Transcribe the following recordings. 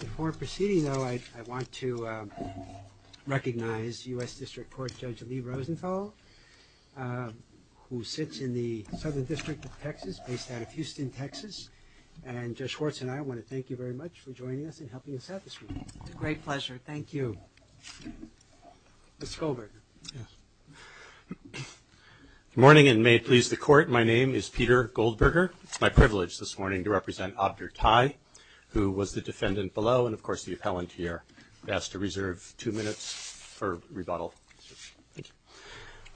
Before proceeding, though, I want to recognize U.S. District Court Judge Lee Rosenthal, who sits in the Southern District of Texas, based out of Houston, Texas. And Judge Schwartz and I want to thank you very much for joining us and helping us out this week. It's a great pleasure. Thank you. Good morning, and may it please the Court, my name is Peter Goldberger. It's my privilege this morning to represent Abdir Tai, who was the defendant below, and of course the appellant here. Best to reserve two minutes for rebuttal.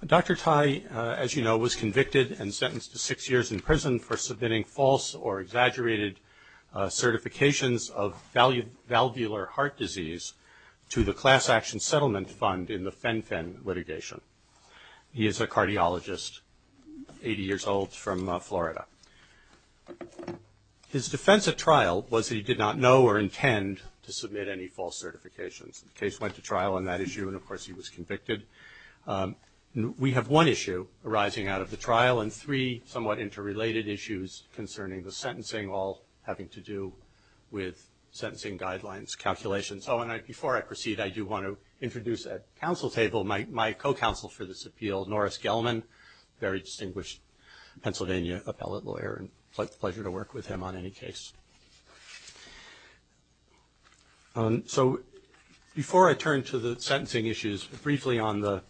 Dr. Tai, as you know, was convicted and sentenced to six years in prison for submitting false or exaggerated certifications of valvular heart disease to the Class Action Settlement Fund in the Fen-Phen litigation. He is a cardiologist, 80 years old, from Florida. His defense at trial was that he did not know or intend to submit any false certifications. The case went to trial on that issue, and of course he was convicted. We have one issue arising out of the trial and three somewhat interrelated issues concerning the sentencing, all having to do with sentencing guidelines, calculations. So before I proceed, I do want to introduce at council table my co-counsel for this appeal, Norris Gelman, very distinguished Pennsylvania appellate lawyer, and it's a pleasure to work with him on any case. So before I turn to the sentencing issues, briefly on the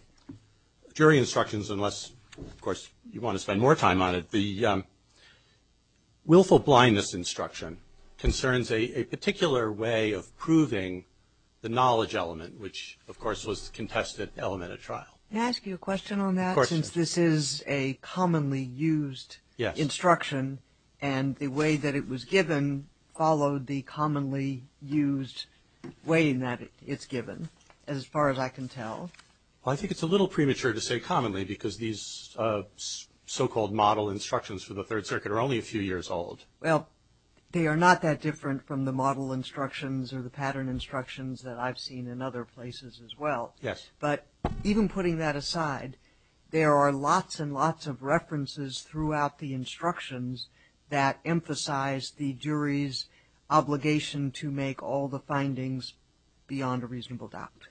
jury instructions, unless of course you want to spend more time on it, the willful blindness instruction concerns a particular way of proving the knowledge element, which of course was the contested element at trial. Can I ask you a question on that, since this is a commonly used instruction, and the way that it was given followed the commonly used way in that it's given, as far as I can tell? Well, I think it's a little premature to say commonly, because these so-called model instructions for the Third Circuit are only a few years old. Well, they are not that different from the model instructions or the pattern instructions that I've seen in other places as well. Yes. But even putting that aside, there are lots and lots of references throughout the instructions that emphasize the jury's obligation to make all the findings beyond a reasonable doubt.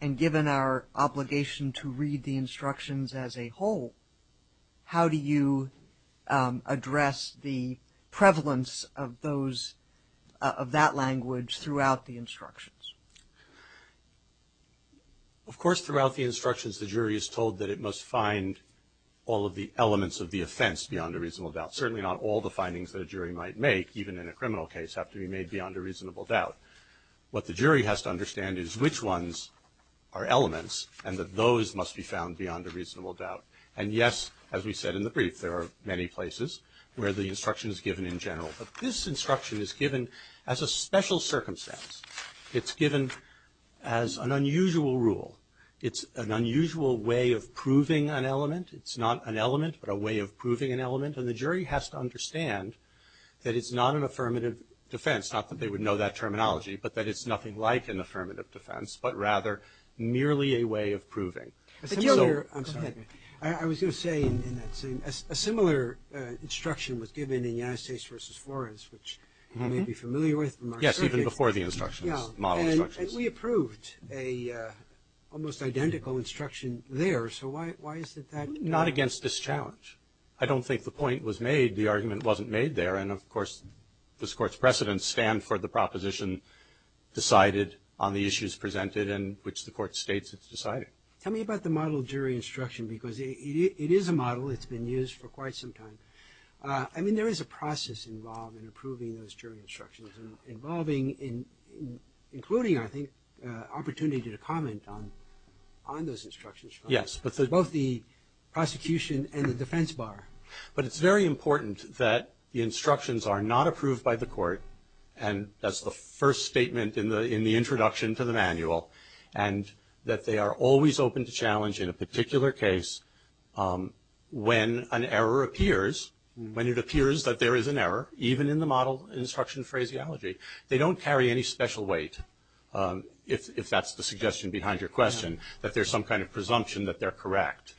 And given our obligation to read the instructions as a whole, how do you address the prevalence of that language throughout the instructions? Of course, throughout the instructions, the jury is told that it must find all of the findings, certainly not all the findings that a jury might make, even in a criminal case have to be made beyond a reasonable doubt. What the jury has to understand is which ones are elements, and that those must be found beyond a reasonable doubt. And yes, as we said in the brief, there are many places where the instruction is given in general. But this instruction is given as a special circumstance. It's given as an unusual rule. It's an unusual way of proving an element. It's not an element, but a way of proving an element. And the jury has to understand that it's not an affirmative defense, not that they would know that terminology, but that it's nothing like an affirmative defense, but rather merely a way of proving. I'm sorry. I was going to say a similar instruction was given in United States v. Flores, which you may be familiar with. Yes. Even before the instructions, model instructions. Yeah. And we approved an almost identical instruction there. So why is it that? Not against this challenge. I don't think the point was made. The argument wasn't made there. And of course, this Court's precedents stand for the proposition decided on the issues presented in which the Court states it's decided. Tell me about the model jury instruction, because it is a model. It's been used for quite some time. I mean, there is a process involved in approving those jury instructions, including, I think, opportunity to comment on those instructions. Yes. But both the prosecution and the defense bar. But it's very important that the instructions are not approved by the Court, and that's the first statement in the introduction to the manual, and that they are always open to challenge in a particular case when an error appears, when it appears that there is an error, even in the model instruction phraseology. They don't carry any special weight, if that's the suggestion behind your question, that there's some kind of presumption that they're correct,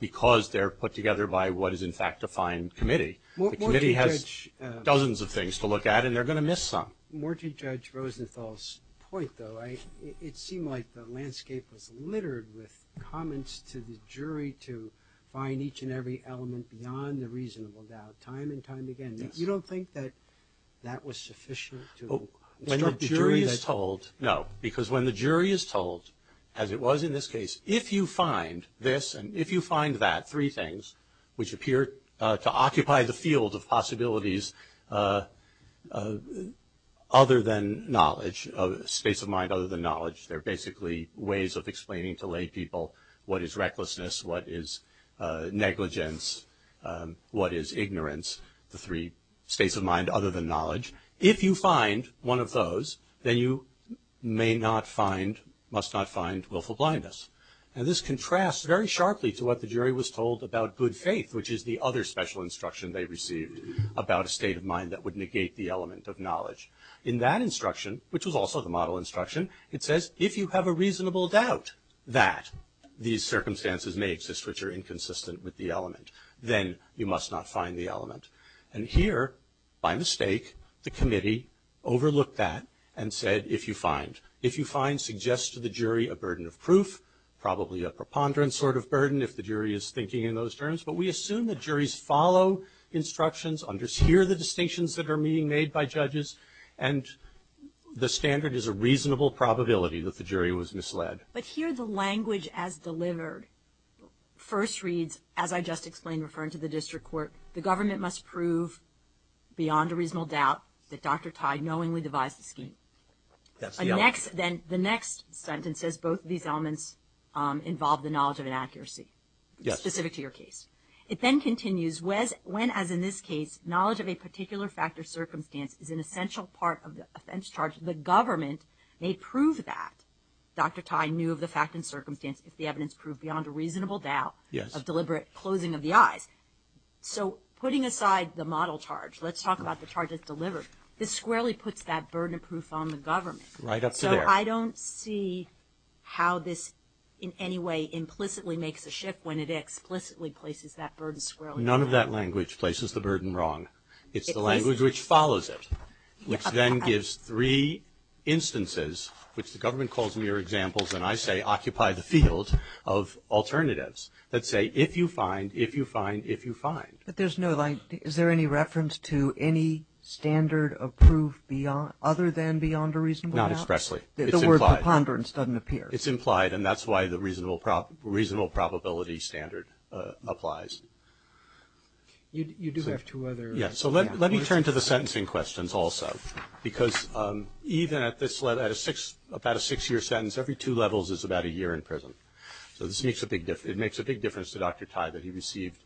because they're put together by what is, in fact, a fine committee. The committee has dozens of things to look at, and they're going to miss some. More to Judge Rosenthal's point, though, it seemed like the landscape was littered with comments to the jury to find each and every element beyond the reasonable doubt, time and time again. Yes. You don't think that that was sufficient to instruct the jury that? No, because when the jury is told, as it was in this case, if you find this and if you find that, three things, which appear to occupy the field of possibilities other than knowledge, a space of mind other than knowledge. They're basically ways of explaining to lay people what is recklessness, what is negligence, what is ignorance, the three states of mind other than knowledge. If you find one of those, then you may not find, must not find, willful blindness. This contrasts very sharply to what the jury was told about good faith, which is the other special instruction they received about a state of mind that would negate the element of knowledge. In that instruction, which was also the model instruction, it says, if you have a reasonable doubt that these circumstances may exist which are inconsistent with the element, then you must not find the element. And here, by mistake, the committee overlooked that and said, if you find. If you find, suggest to the jury a burden of proof, probably a preponderance sort of burden if the jury is thinking in those terms. But we assume that juries follow instructions, understand the distinctions that are being made by judges, and the standard is a reasonable probability that the jury was misled. But here the language as delivered first reads, as I just explained referring to the district court, the government must prove beyond a reasonable doubt that Dr. Tai knowingly devised the scheme. That's the element. The next, then, the next sentence says both of these elements involve the knowledge of inaccuracy. Yes. Specific to your case. It then continues, when, as in this case, knowledge of a particular fact or circumstance is an essential part of the offense charge, the government may prove that Dr. Tai knew of the fact and circumstance if the evidence proved beyond a reasonable doubt of deliberate closing of the eyes. So putting aside the model charge, let's talk about the charge that's delivered. This squarely puts that burden of proof on the government. Right up to there. So I don't see how this in any way implicitly makes a shift when it explicitly places that burden squarely on the government. None of that language places the burden wrong. It's the language which follows it, which then gives three instances, which the government and I say occupy the field of alternatives that say if you find, if you find, if you find. But there's no, like, is there any reference to any standard of proof other than beyond a reasonable doubt? Not expressly. It's implied. The word preponderance doesn't appear. It's implied, and that's why the reasonable probability standard applies. You do have two other. Yes. So let me turn to the sentencing questions also, because even at this, at a six, about a six-year sentence, every two levels is about a year in prison. So this makes a big difference. It makes a big difference to Dr. Tai that he received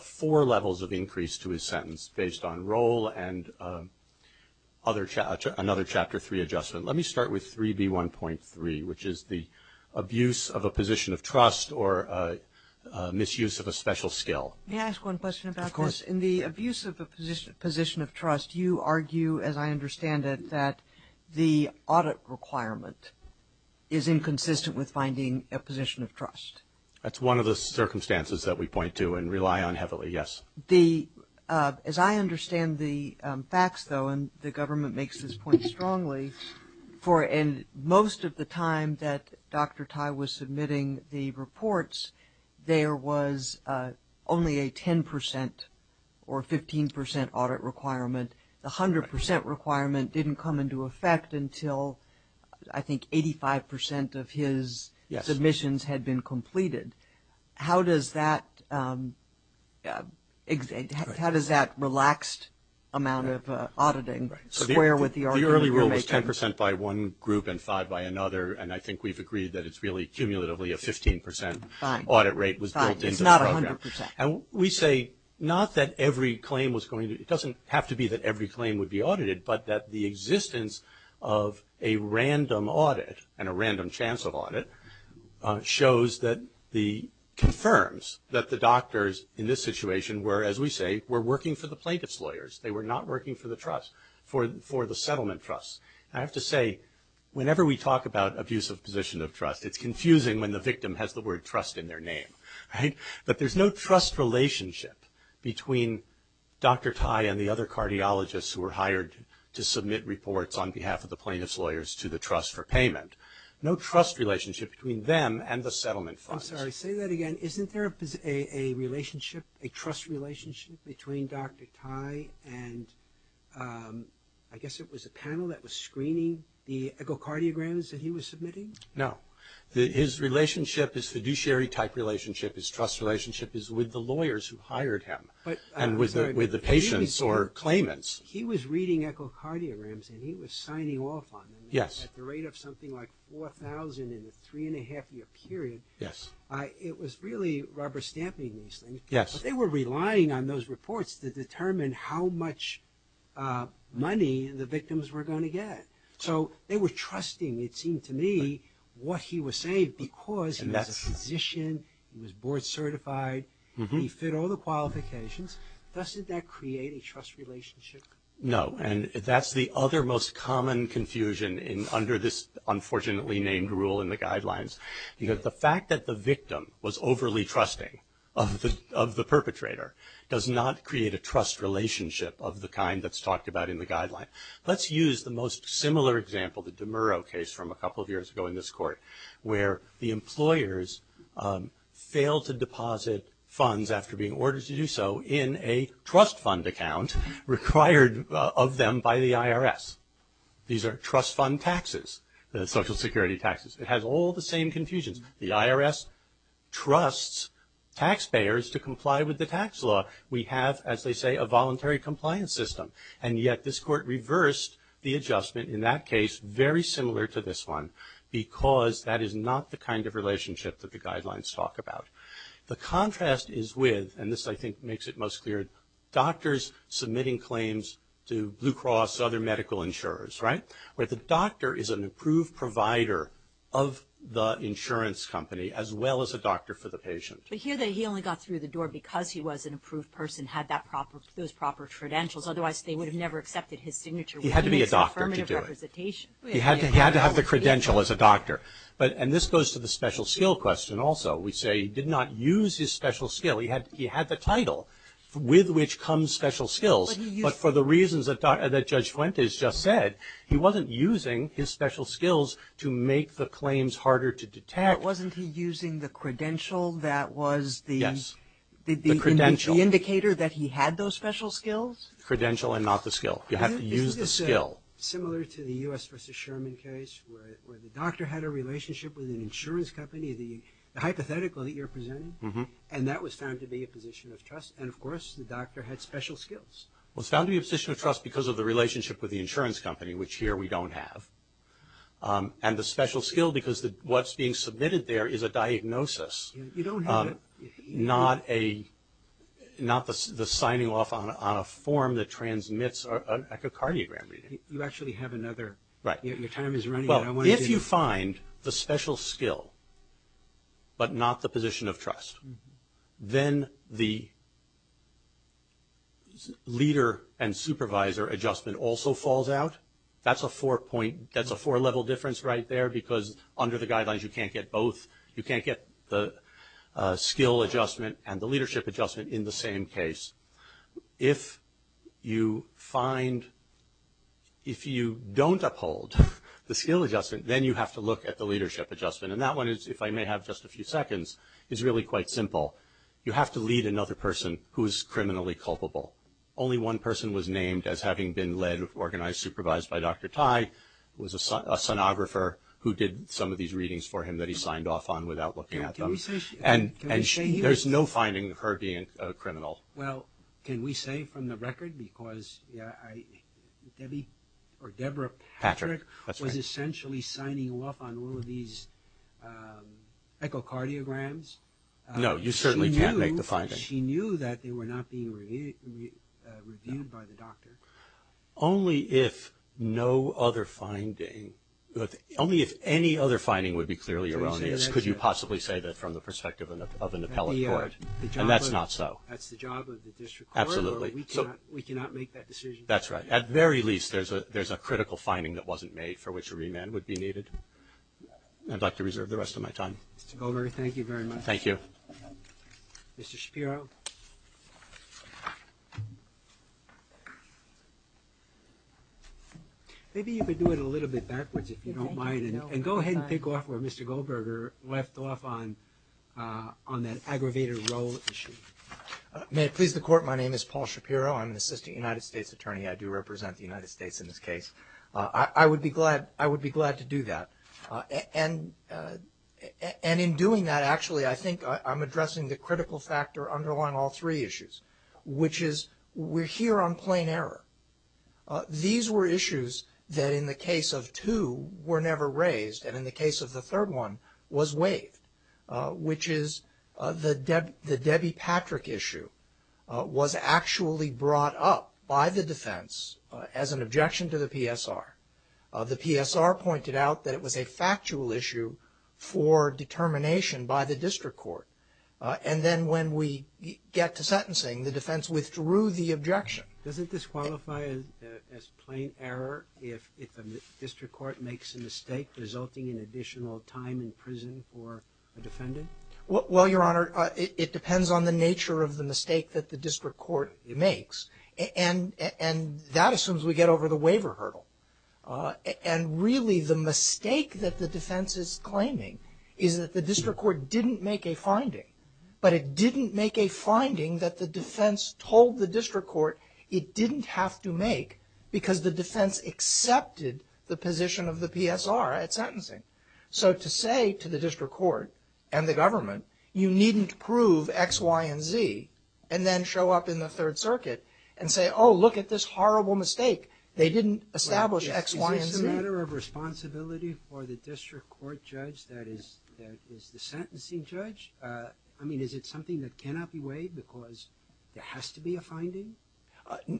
four levels of increase to his sentence based on role and other, another Chapter 3 adjustment. Let me start with 3B1.3, which is the abuse of a position of trust or misuse of a special skill. May I ask one question about this? Yes. In the abuse of a position of trust, you argue, as I understand it, that the audit requirement is inconsistent with finding a position of trust. That's one of the circumstances that we point to and rely on heavily, yes. The, as I understand the facts, though, and the government makes this point strongly, and most of the time that Dr. Tai was submitting the reports, there was only a 10% or 15% audit requirement. The 100% requirement didn't come into effect until, I think, 85% of his submissions had been completed. How does that, how does that relaxed amount of auditing square with the argument you're making? It's 10% by one group and five by another, and I think we've agreed that it's really cumulatively a 15% audit rate was built into the program. Fine. It's not 100%. And we say, not that every claim was going to, it doesn't have to be that every claim would be audited, but that the existence of a random audit and a random chance of audit shows that the, confirms that the doctors in this situation were, as we say, were working for the plaintiff's lawyers. They were not working for the trust, for the settlement trust. And I have to say, whenever we talk about abusive position of trust, it's confusing when the victim has the word trust in their name, right? But there's no trust relationship between Dr. Tai and the other cardiologists who were hired to submit reports on behalf of the plaintiff's lawyers to the trust for payment. No trust relationship between them and the settlement funds. I'm sorry, say that again. Isn't there a relationship, a trust relationship between Dr. Tai and, I guess it was a panel that was screening the echocardiograms that he was submitting? No. His relationship is fiduciary type relationship. His trust relationship is with the lawyers who hired him. And with the patients or claimants. He was reading echocardiograms and he was signing off on them. Yes. At the rate of something like 4,000 in a three and a half year period. Yes. It was really rubber stamping these things. Yes. But they were relying on those reports to determine how much money the victims were going to get. So, they were trusting, it seemed to me, what he was saying because he was a physician, he was board certified, he fit all the qualifications, doesn't that create a trust relationship? No. And that's the other most common confusion under this unfortunately named rule in the guidelines. Because the fact that the victim was overly trusting of the perpetrator does not create a trust relationship of the kind that's talked about in the guidelines. Let's use the most similar example, the DeMuro case from a couple of years ago in this court where the employers failed to deposit funds after being ordered to do so in a trust fund account required of them by the IRS. These are trust fund taxes, social security taxes. It has all the same confusions. The IRS trusts taxpayers to comply with the tax law. We have, as they say, a voluntary compliance system. And yet, this court reversed the adjustment in that case very similar to this one because that is not the kind of relationship that the guidelines talk about. The contrast is with, and this I think makes it most clear, doctors submitting claims to Blue Cross, other medical insurers, right? Where the doctor is an approved provider of the insurance company as well as a doctor for the patient. But here, he only got through the door because he was an approved person, had those proper credentials. Otherwise, they would have never accepted his signature. He had to be a doctor to do it. He had to have the credential as a doctor. And this goes to the special skill question also. We say he did not use his special skill. He had the title with which comes special skills, but for the reasons that Judge Fuentes just said, he wasn't using his special skills to make the claims harder to detect. But wasn't he using the credential that was the indicator that he had those special skills? Credential and not the skill. You have to use the skill. Isn't this similar to the U.S. v. Sherman case where the doctor had a relationship with an insurance company, the hypothetical that you're presenting? And that was found to be a position of trust, and of course, the doctor had special skills. It was found to be a position of trust because of the relationship with the insurance company, which here we don't have. And the special skill because what's being submitted there is a diagnosis, not the signing off on a form that transmits an echocardiogram reading. You actually have another. Right. Your time is running out. If you find the special skill, but not the position of trust, then the leader and supervisor adjustment also falls out. That's a four-level difference right there because under the guidelines, you can't get both. You can't get the skill adjustment and the leadership adjustment in the same case. If you don't uphold the skill adjustment, then you have to look at the leadership adjustment. And that one is, if I may have just a few seconds, is really quite simple. You have to lead another person who is criminally culpable. Only one person was named as having been led, organized, supervised by Dr. Tai, who was a sonographer who did some of these readings for him that he signed off on without looking at them. And there's no finding of her being a criminal. Well, can we say from the record, because Deborah Patrick was essentially signing off on all of these echocardiograms. No, you certainly can't make the finding. She knew that they were not being reviewed by the doctor. Only if no other finding, only if any other finding would be clearly erroneous could you possibly say that from the perspective of an appellate court, and that's not so. That's the job of the district court, or we cannot make that decision. That's right. At the very least, there's a critical finding that wasn't made for which a remand would be needed. I'd like to reserve the rest of my time. Mr. Goldberger, thank you very much. Thank you. Mr. Shapiro. Maybe you could do it a little bit backwards, if you don't mind, and go ahead and pick off where Mr. Goldberger left off on that aggravated role issue. May it please the court, my name is Paul Shapiro. I'm an assistant United States attorney. I do represent the United States in this case. I would be glad to do that. And in doing that, actually, I think I'm addressing the critical factor underlying all three issues, which is we're here on plain error. These were issues that, in the case of two, were never raised, and in the case of the third one, was waived, which is the Debbie Patrick issue was actually brought up by the defense as an objection to the PSR. The PSR pointed out that it was a factual issue for determination by the district court. And then when we get to sentencing, the defense withdrew the objection. Doesn't this qualify as plain error if a district court makes a mistake, resulting in additional time in prison for a defendant? Well, Your Honor, it depends on the nature of the mistake that the district court makes. And that assumes we get over the waiver hurdle. And really, the mistake that the defense is claiming is that the district court didn't make a finding. But it didn't make a finding that the defense told the district court it didn't have to make because the defense accepted the position of the PSR at sentencing. So to say to the district court and the government, you needn't prove X, Y, and Z, and then show up in the Third Circuit and say, oh, look at this horrible mistake. They didn't establish X, Y, and Z. Is it a matter of responsibility for the district court judge that is the sentencing judge? I mean, is it something that cannot be weighed because there has to be a finding?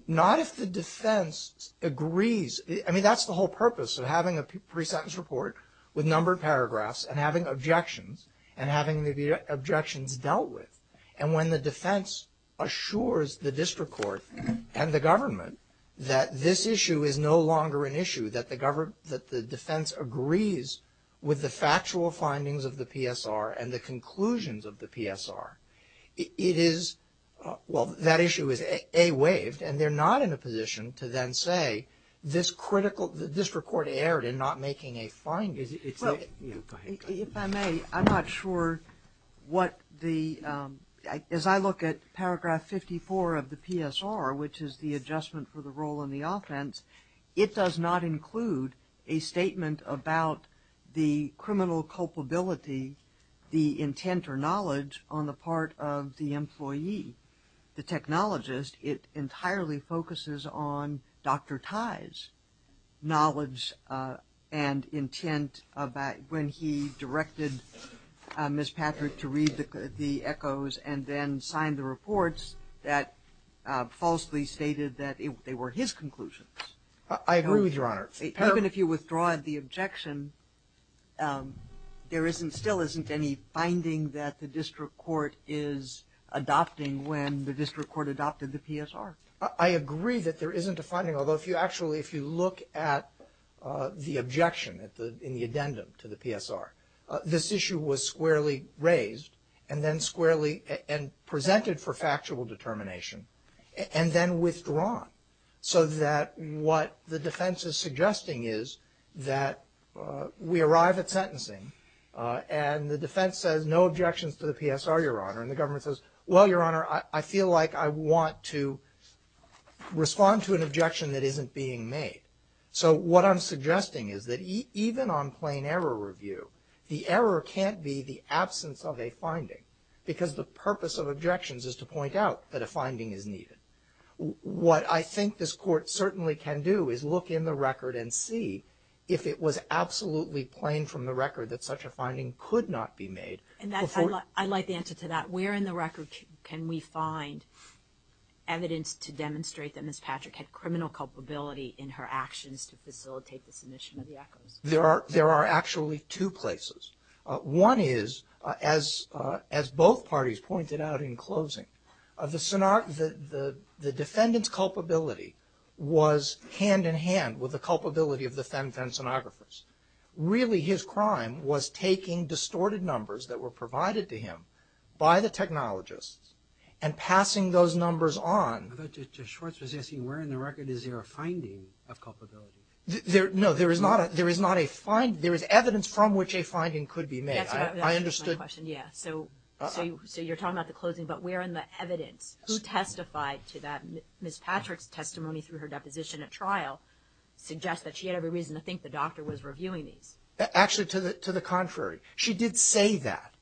Not if the defense agrees. I mean, that's the whole purpose of having a pre-sentence report with numbered paragraphs and having objections and having the objections dealt with. And when the defense assures the district court and the government that this issue is no longer an issue, that the defense agrees with the factual findings of the PSR and the conclusions of the PSR, it is – well, that issue is A, waived. And they're not in a position to then say this critical – the district court erred in not making a finding. It's a – Well, if I may, I'm not sure what the – as I look at paragraph 54 of the PSR, which is the adjustment for the role in the offense, it does not include a statement about the criminal culpability, the intent or knowledge on the part of the employee, the technologist. It entirely focuses on Dr. Tai's knowledge and intent when he directed Ms. Patrick to read the echoes and then sign the reports that falsely stated that they were his conclusions. I agree with Your Honor. Even if you withdraw the objection, there isn't – still isn't any finding that the district court is adopting when the district court adopted the PSR. I agree that there isn't a finding, although if you actually – if you look at the objection at the – in the addendum to the PSR, this issue was squarely raised and then squarely – and presented for factual determination and then withdrawn so that what the defense is suggesting is that we arrive at sentencing and the defense says no objections to the PSR, Your Honor, and the government says, well, Your Honor, I feel like I want to respond to an objection that isn't being made. So what I'm suggesting is that even on plain error review, the error can't be the absence of a finding because the purpose of objections is to point out that a finding is needed. What I think this court certainly can do is look in the record and see if it was absolutely plain from the record that such a finding could not be made before – And that's – I like the answer to that. Where in the record can we find evidence to demonstrate that Ms. Patrick had criminal culpability in her actions to facilitate the submission of the echoes? There are actually two places. One is, as both parties pointed out in closing, the defendant's culpability was hand-in-hand with the culpability of the fen-fen stenographers. Really his crime was taking distorted numbers that were provided to him by the technologists and passing those numbers on. I thought Judge Schwartz was asking where in the record is there a finding of culpability? There – no, there is not a – there is not a – there is evidence from which a finding could be made. I understood – That's my question, yeah. So – Uh-oh. So you're talking about the closing, but where in the evidence? Who testified to that? Ms. Patrick's testimony through her deposition at trial suggests that she had every reason to think the doctor was reviewing these. Actually to the contrary. She did say that.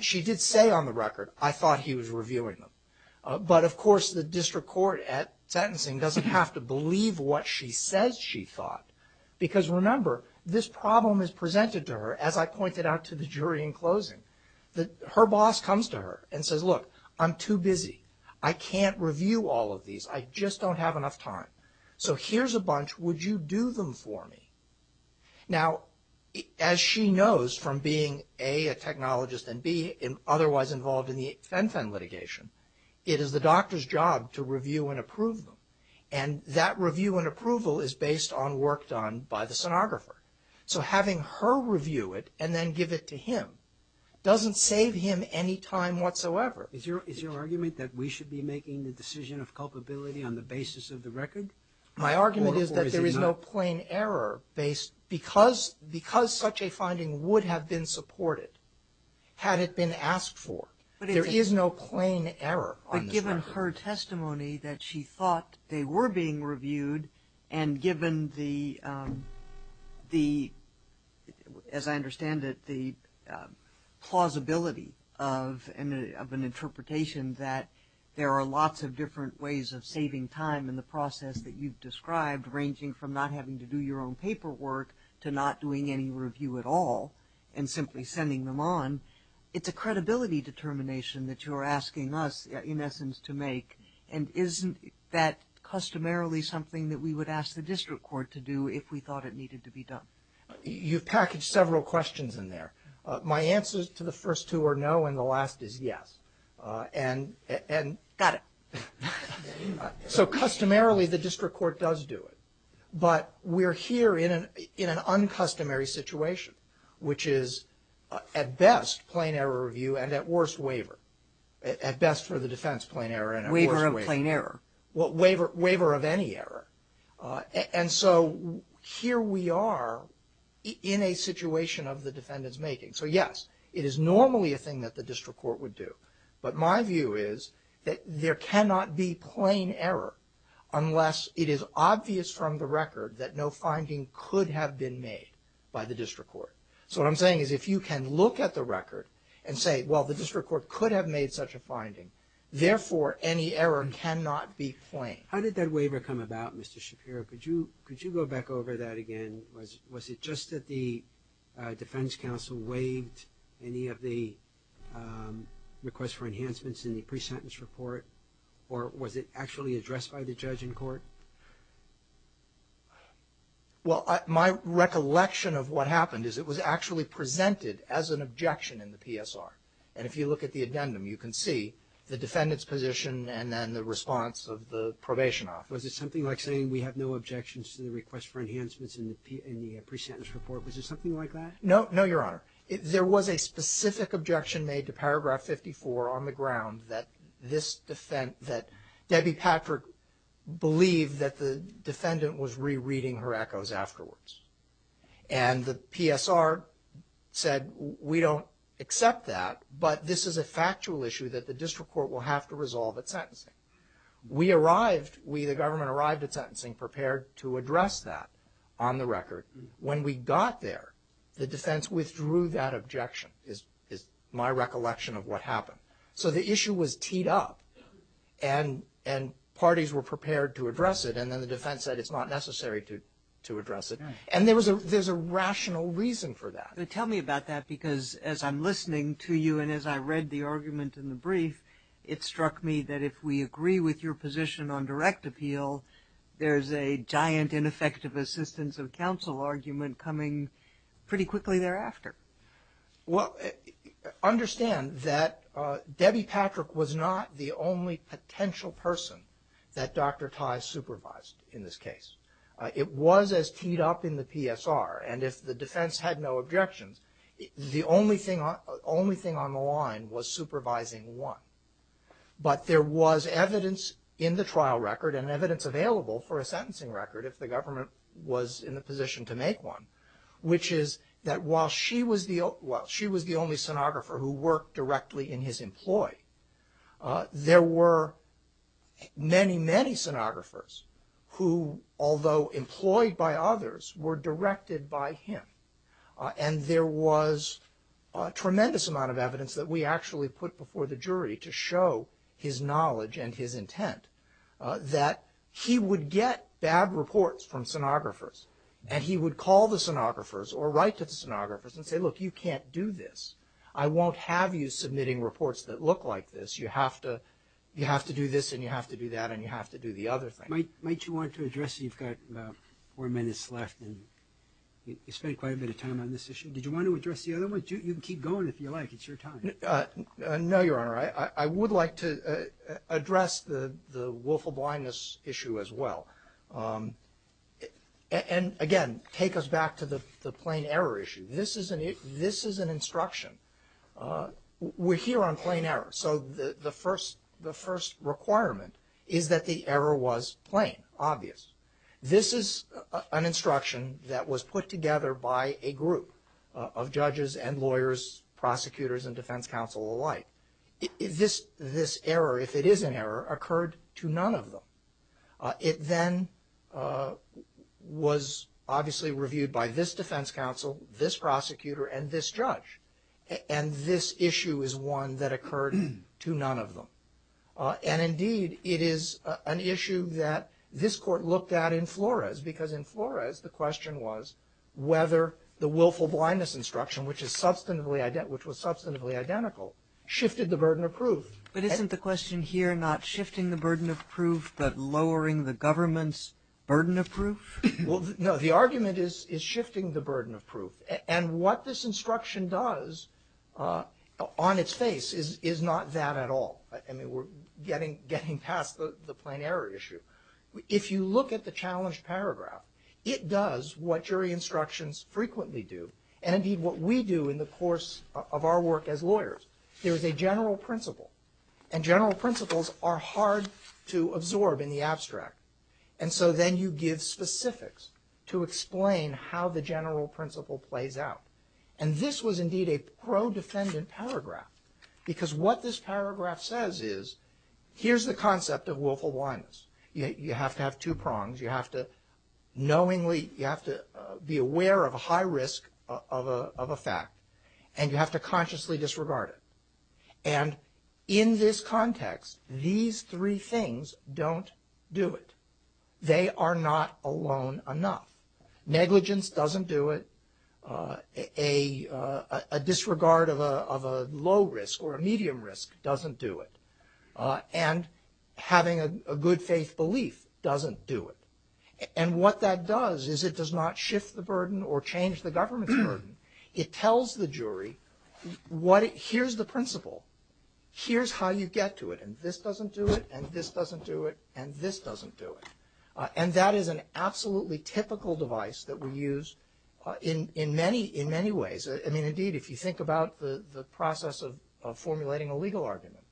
She did say on the record, I thought he was reviewing them. But of course the district court at sentencing doesn't have to believe what she says she thought. Because remember, this problem is presented to her, as I pointed out to the jury in closing. Her boss comes to her and says, look, I'm too busy. I can't review all of these. I just don't have enough time. So here's a bunch. Would you do them for me? Now as she knows from being, A, a technologist, and B, otherwise involved in the fen-fen litigation, it is the doctor's job to review and approve them. And that review and approval is based on work done by the sonographer. So having her review it and then give it to him doesn't save him any time whatsoever. Is your argument that we should be making the decision of culpability on the basis of the record? My argument is that there is no plain error based – because such a finding would have been supported had it been asked for. There is no plain error on this record. But given her testimony that she thought they were being reviewed, and given the, as I understand it, the plausibility of an interpretation that there are lots of different ways of saving time in the process that you've described, ranging from not having to do your own paperwork to not doing any review at all and simply sending them on, it's a credibility determination that you're asking us, in essence, to make. And isn't that customarily something that we would ask the district court to do if we thought it needed to be done? You've packaged several questions in there. My answer to the first two are no, and the last is yes. And – Got it. So customarily, the district court does do it, but we're here in an uncustomary situation, which is, at best, plain error review, and at worst, waiver. At best for the defense, plain error, and at worst, waiver. Waiver of plain error. Well, waiver of any error. And so here we are in a situation of the defendant's making. So yes, it is normally a thing that the district court would do, but my view is that there cannot be plain error unless it is obvious from the record that no finding could have been made by the district court. So what I'm saying is if you can look at the record and say, well, the district court could have made such a finding, therefore, any error cannot be plain. How did that waiver come about, Mr. Shapiro? Could you go back over that again? Was it just that the defense counsel waived any of the requests for enhancements in the Or was it actually addressed by the judge in court? Well, my recollection of what happened is it was actually presented as an objection in the PSR, and if you look at the addendum, you can see the defendant's position and then the response of the probation office. Was it something like saying we have no objections to the request for enhancements in the pre-sentence report? Was it something like that? No, no, Your Honor. There was a specific objection made to paragraph 54 on the ground that this defense that Debbie Patrick believed that the defendant was rereading her echoes afterwards. And the PSR said, we don't accept that, but this is a factual issue that the district court will have to resolve at sentencing. We arrived, we the government arrived at sentencing prepared to address that on the record. When we got there, the defense withdrew that objection is my recollection of what happened. So the issue was teed up and parties were prepared to address it, and then the defense said it's not necessary to address it. And there's a rational reason for that. Tell me about that because as I'm listening to you and as I read the argument in the brief, it struck me that if we agree with your position on direct appeal, there's a giant ineffective assistance of counsel argument coming pretty quickly thereafter. Well, understand that Debbie Patrick was not the only potential person that Dr. Tye supervised in this case. It was as teed up in the PSR. And if the defense had no objections, the only thing on the line was supervising one. But there was evidence in the trial record and evidence available for a sentencing record if the government was in the position to make one, which is that while she was the only sonographer who worked directly in his employ, there were many, many sonographers who, although employed by others, were directed by him. And there was a tremendous amount of evidence that we actually put before the jury to show his knowledge and his intent that he would get bad reports from sonographers and he would call the sonographers or write to the sonographers and say, look, you can't do this. I won't have you submitting reports that look like this. You have to do this and you have to do that and you have to do the other thing. Might you want to address, you've got about four minutes left and you spent quite a bit of time on this issue. Did you want to address the other one? You can keep going if you like. It's your time. No, Your Honor, I would like to address the willful blindness issue as well. And again, take us back to the plain error issue. This is an instruction. We're here on plain error. So the first requirement is that the error was plain, obvious. This is an instruction that was put together by a group of judges and lawyers, prosecutors and defense counsel alike. This error, if it is an error, occurred to none of them. It then was obviously reviewed by this defense counsel, this prosecutor, and this judge. And this issue is one that occurred to none of them. And indeed, it is an issue that this court looked at in Flores. Because in Flores, the question was whether the willful blindness instruction, which was substantively identical, shifted the burden of proof. But isn't the question here not shifting the burden of proof, but lowering the government's burden of proof? Well, no. The argument is shifting the burden of proof. And what this instruction does on its face is not that at all. I mean, we're getting past the plain error issue. If you look at the challenged paragraph, it does what jury instructions frequently do, and indeed, what we do in the course of our work as lawyers. There is a general principle. And general principles are hard to absorb in the abstract. And so then you give specifics to explain how the general principle plays out. And this was indeed a pro-defendant paragraph. Because what this paragraph says is, here's the concept of willful blindness. You have to have two prongs. You have to knowingly, you have to be aware of a high risk of a fact. And you have to consciously disregard it. And in this context, these three things don't do it. They are not alone enough. Negligence doesn't do it. A disregard of a low risk or a medium risk doesn't do it. And having a good faith belief doesn't do it. And what that does is it does not shift the burden or change the government's burden. It tells the jury, here's the principle, here's how you get to it. And this doesn't do it, and this doesn't do it, and this doesn't do it. And that is an absolutely typical device that we use in many ways. I mean, indeed, if you think about the process of formulating a legal argument,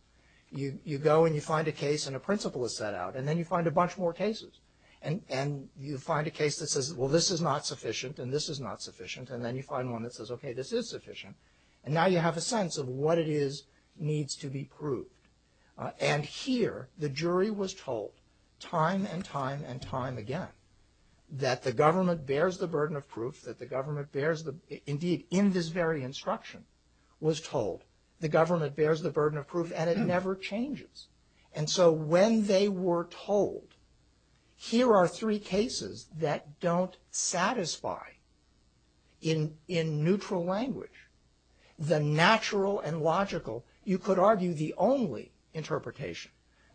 you go and you find a case and a principle is set out. And then you find a bunch more cases. And you find a case that says, well, this is not sufficient, and this is not sufficient. And then you find one that says, okay, this is sufficient. And now you have a sense of what it is needs to be proved. And here, the jury was told time and time and time again that the government bears the burden of proof, that the government bears the, indeed, in this very instruction, was told the government bears the burden of proof. And it never changes. And so when they were told, here are three cases that don't satisfy in neutral language, the natural and logical, you could argue the only interpretation.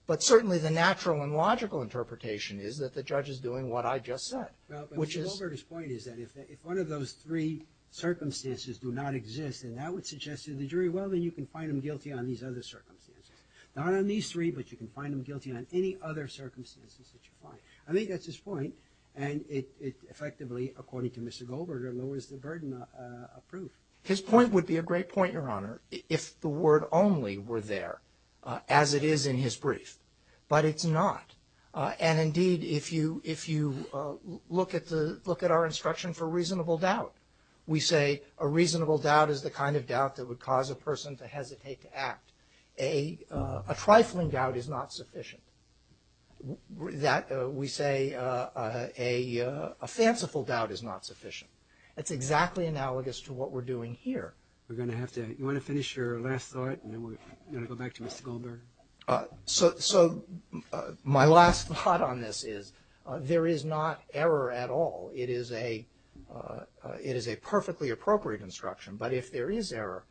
But certainly the natural and logical interpretation is that the judge is doing what I just said, which is- Well, Mr. Goldberger's point is that if one of those three circumstances do not exist, then that would suggest to the jury, well, then you can find them guilty on these other circumstances. Not on these three, but you can find them guilty on any other circumstances that you find. I think that's his point, and it effectively, according to Mr. Goldberger, lowers the burden of proof. His point would be a great point, Your Honor, if the word only were there, as it is in his brief. But it's not. And indeed, if you look at our instruction for reasonable doubt, we say a reasonable doubt is the kind of doubt that would cause a person to hesitate to act. A trifling doubt is not sufficient. That, we say, a fanciful doubt is not sufficient. It's exactly analogous to what we're doing here. We're going to have to, you want to finish your last thought, and then we're going to go back to Mr. Goldberger? So, so my last thought on this is, there is not error at all. It is a, it is a perfectly appropriate instruction. But if there is error,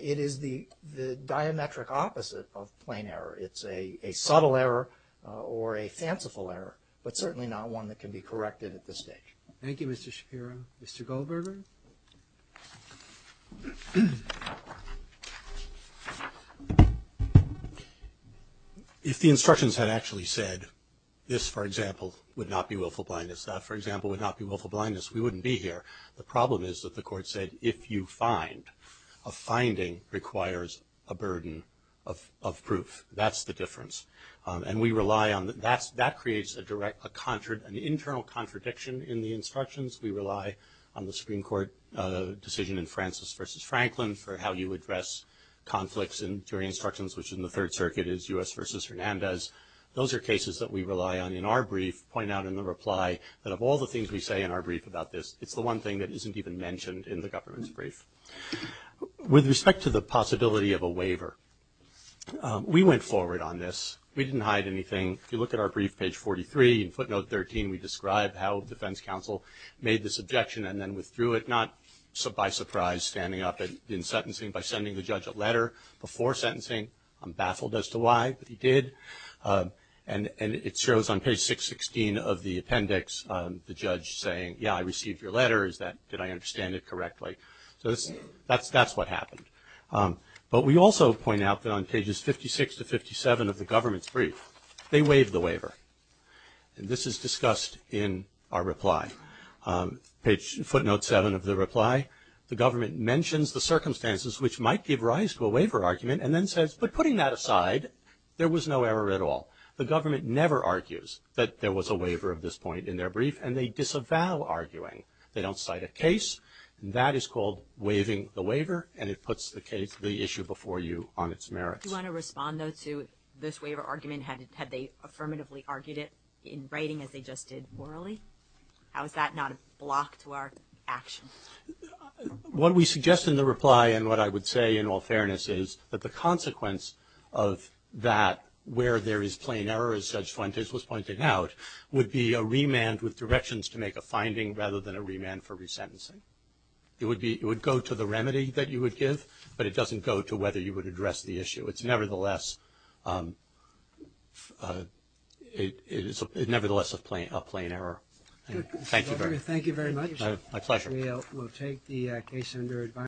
it is the, the diametric opposite of plain error. It's a, a subtle error or a fanciful error, but certainly not one that can be corrected at this stage. Thank you, Mr. Shapiro. Mr. Goldberger? If the instructions had actually said, this, for example, would not be willful blindness, that, for example, would not be willful blindness, we wouldn't be here. The problem is that the court said, if you find, a finding requires a burden of, of proof. That's the difference. And we rely on, that's, that creates a direct, a contra, an internal contradiction in the instructions. We rely on the Supreme Court decision in Francis versus Franklin for how you address conflicts in jury instructions, which in the Third Circuit is U.S. versus Hernandez. Those are cases that we rely on in our brief, point out in the reply, that of all the things we say in our brief about this, it's the one thing that isn't even mentioned in the government's brief. With respect to the possibility of a waiver. We went forward on this. We didn't hide anything. If you look at our brief, page 43, in footnote 13, we describe how the defense counsel made this objection and then withdrew it. Not by surprise, standing up and in sentencing by sending the judge a letter before sentencing. I'm baffled as to why, but he did. And, and it shows on page 616 of the appendix, the judge saying, yeah, I received your letter, is that, did I understand it correctly? So this, that's, that's what happened. But we also point out that on pages 56 to 57 of the government's brief, they waived the waiver, and this is discussed in our reply. Page, footnote 7 of the reply, the government mentions the circumstances which might give rise to a waiver argument, and then says, but putting that aside, there was no error at all. The government never argues that there was a waiver of this point in their brief, and they disavow arguing. They don't cite a case, and that is called waiving the waiver, and it puts the case, the issue before you on its merits. Do you want to respond, though, to this waiver argument? Had, had they affirmatively argued it in writing, as they just did orally? How is that not a block to our action? What we suggest in the reply, and what I would say in all fairness is, that the consequence of that, where there is plain error, as Judge Fuentes was pointing out, would be a remand with directions to make a finding, rather than a remand for resentencing. It would be, it would go to the remedy that you would give, but it doesn't go to whether you would address the issue. It's nevertheless it's nevertheless a plain, a plain error. Thank you very much. Thank you very much. My pleasure. We'll take the case under advice.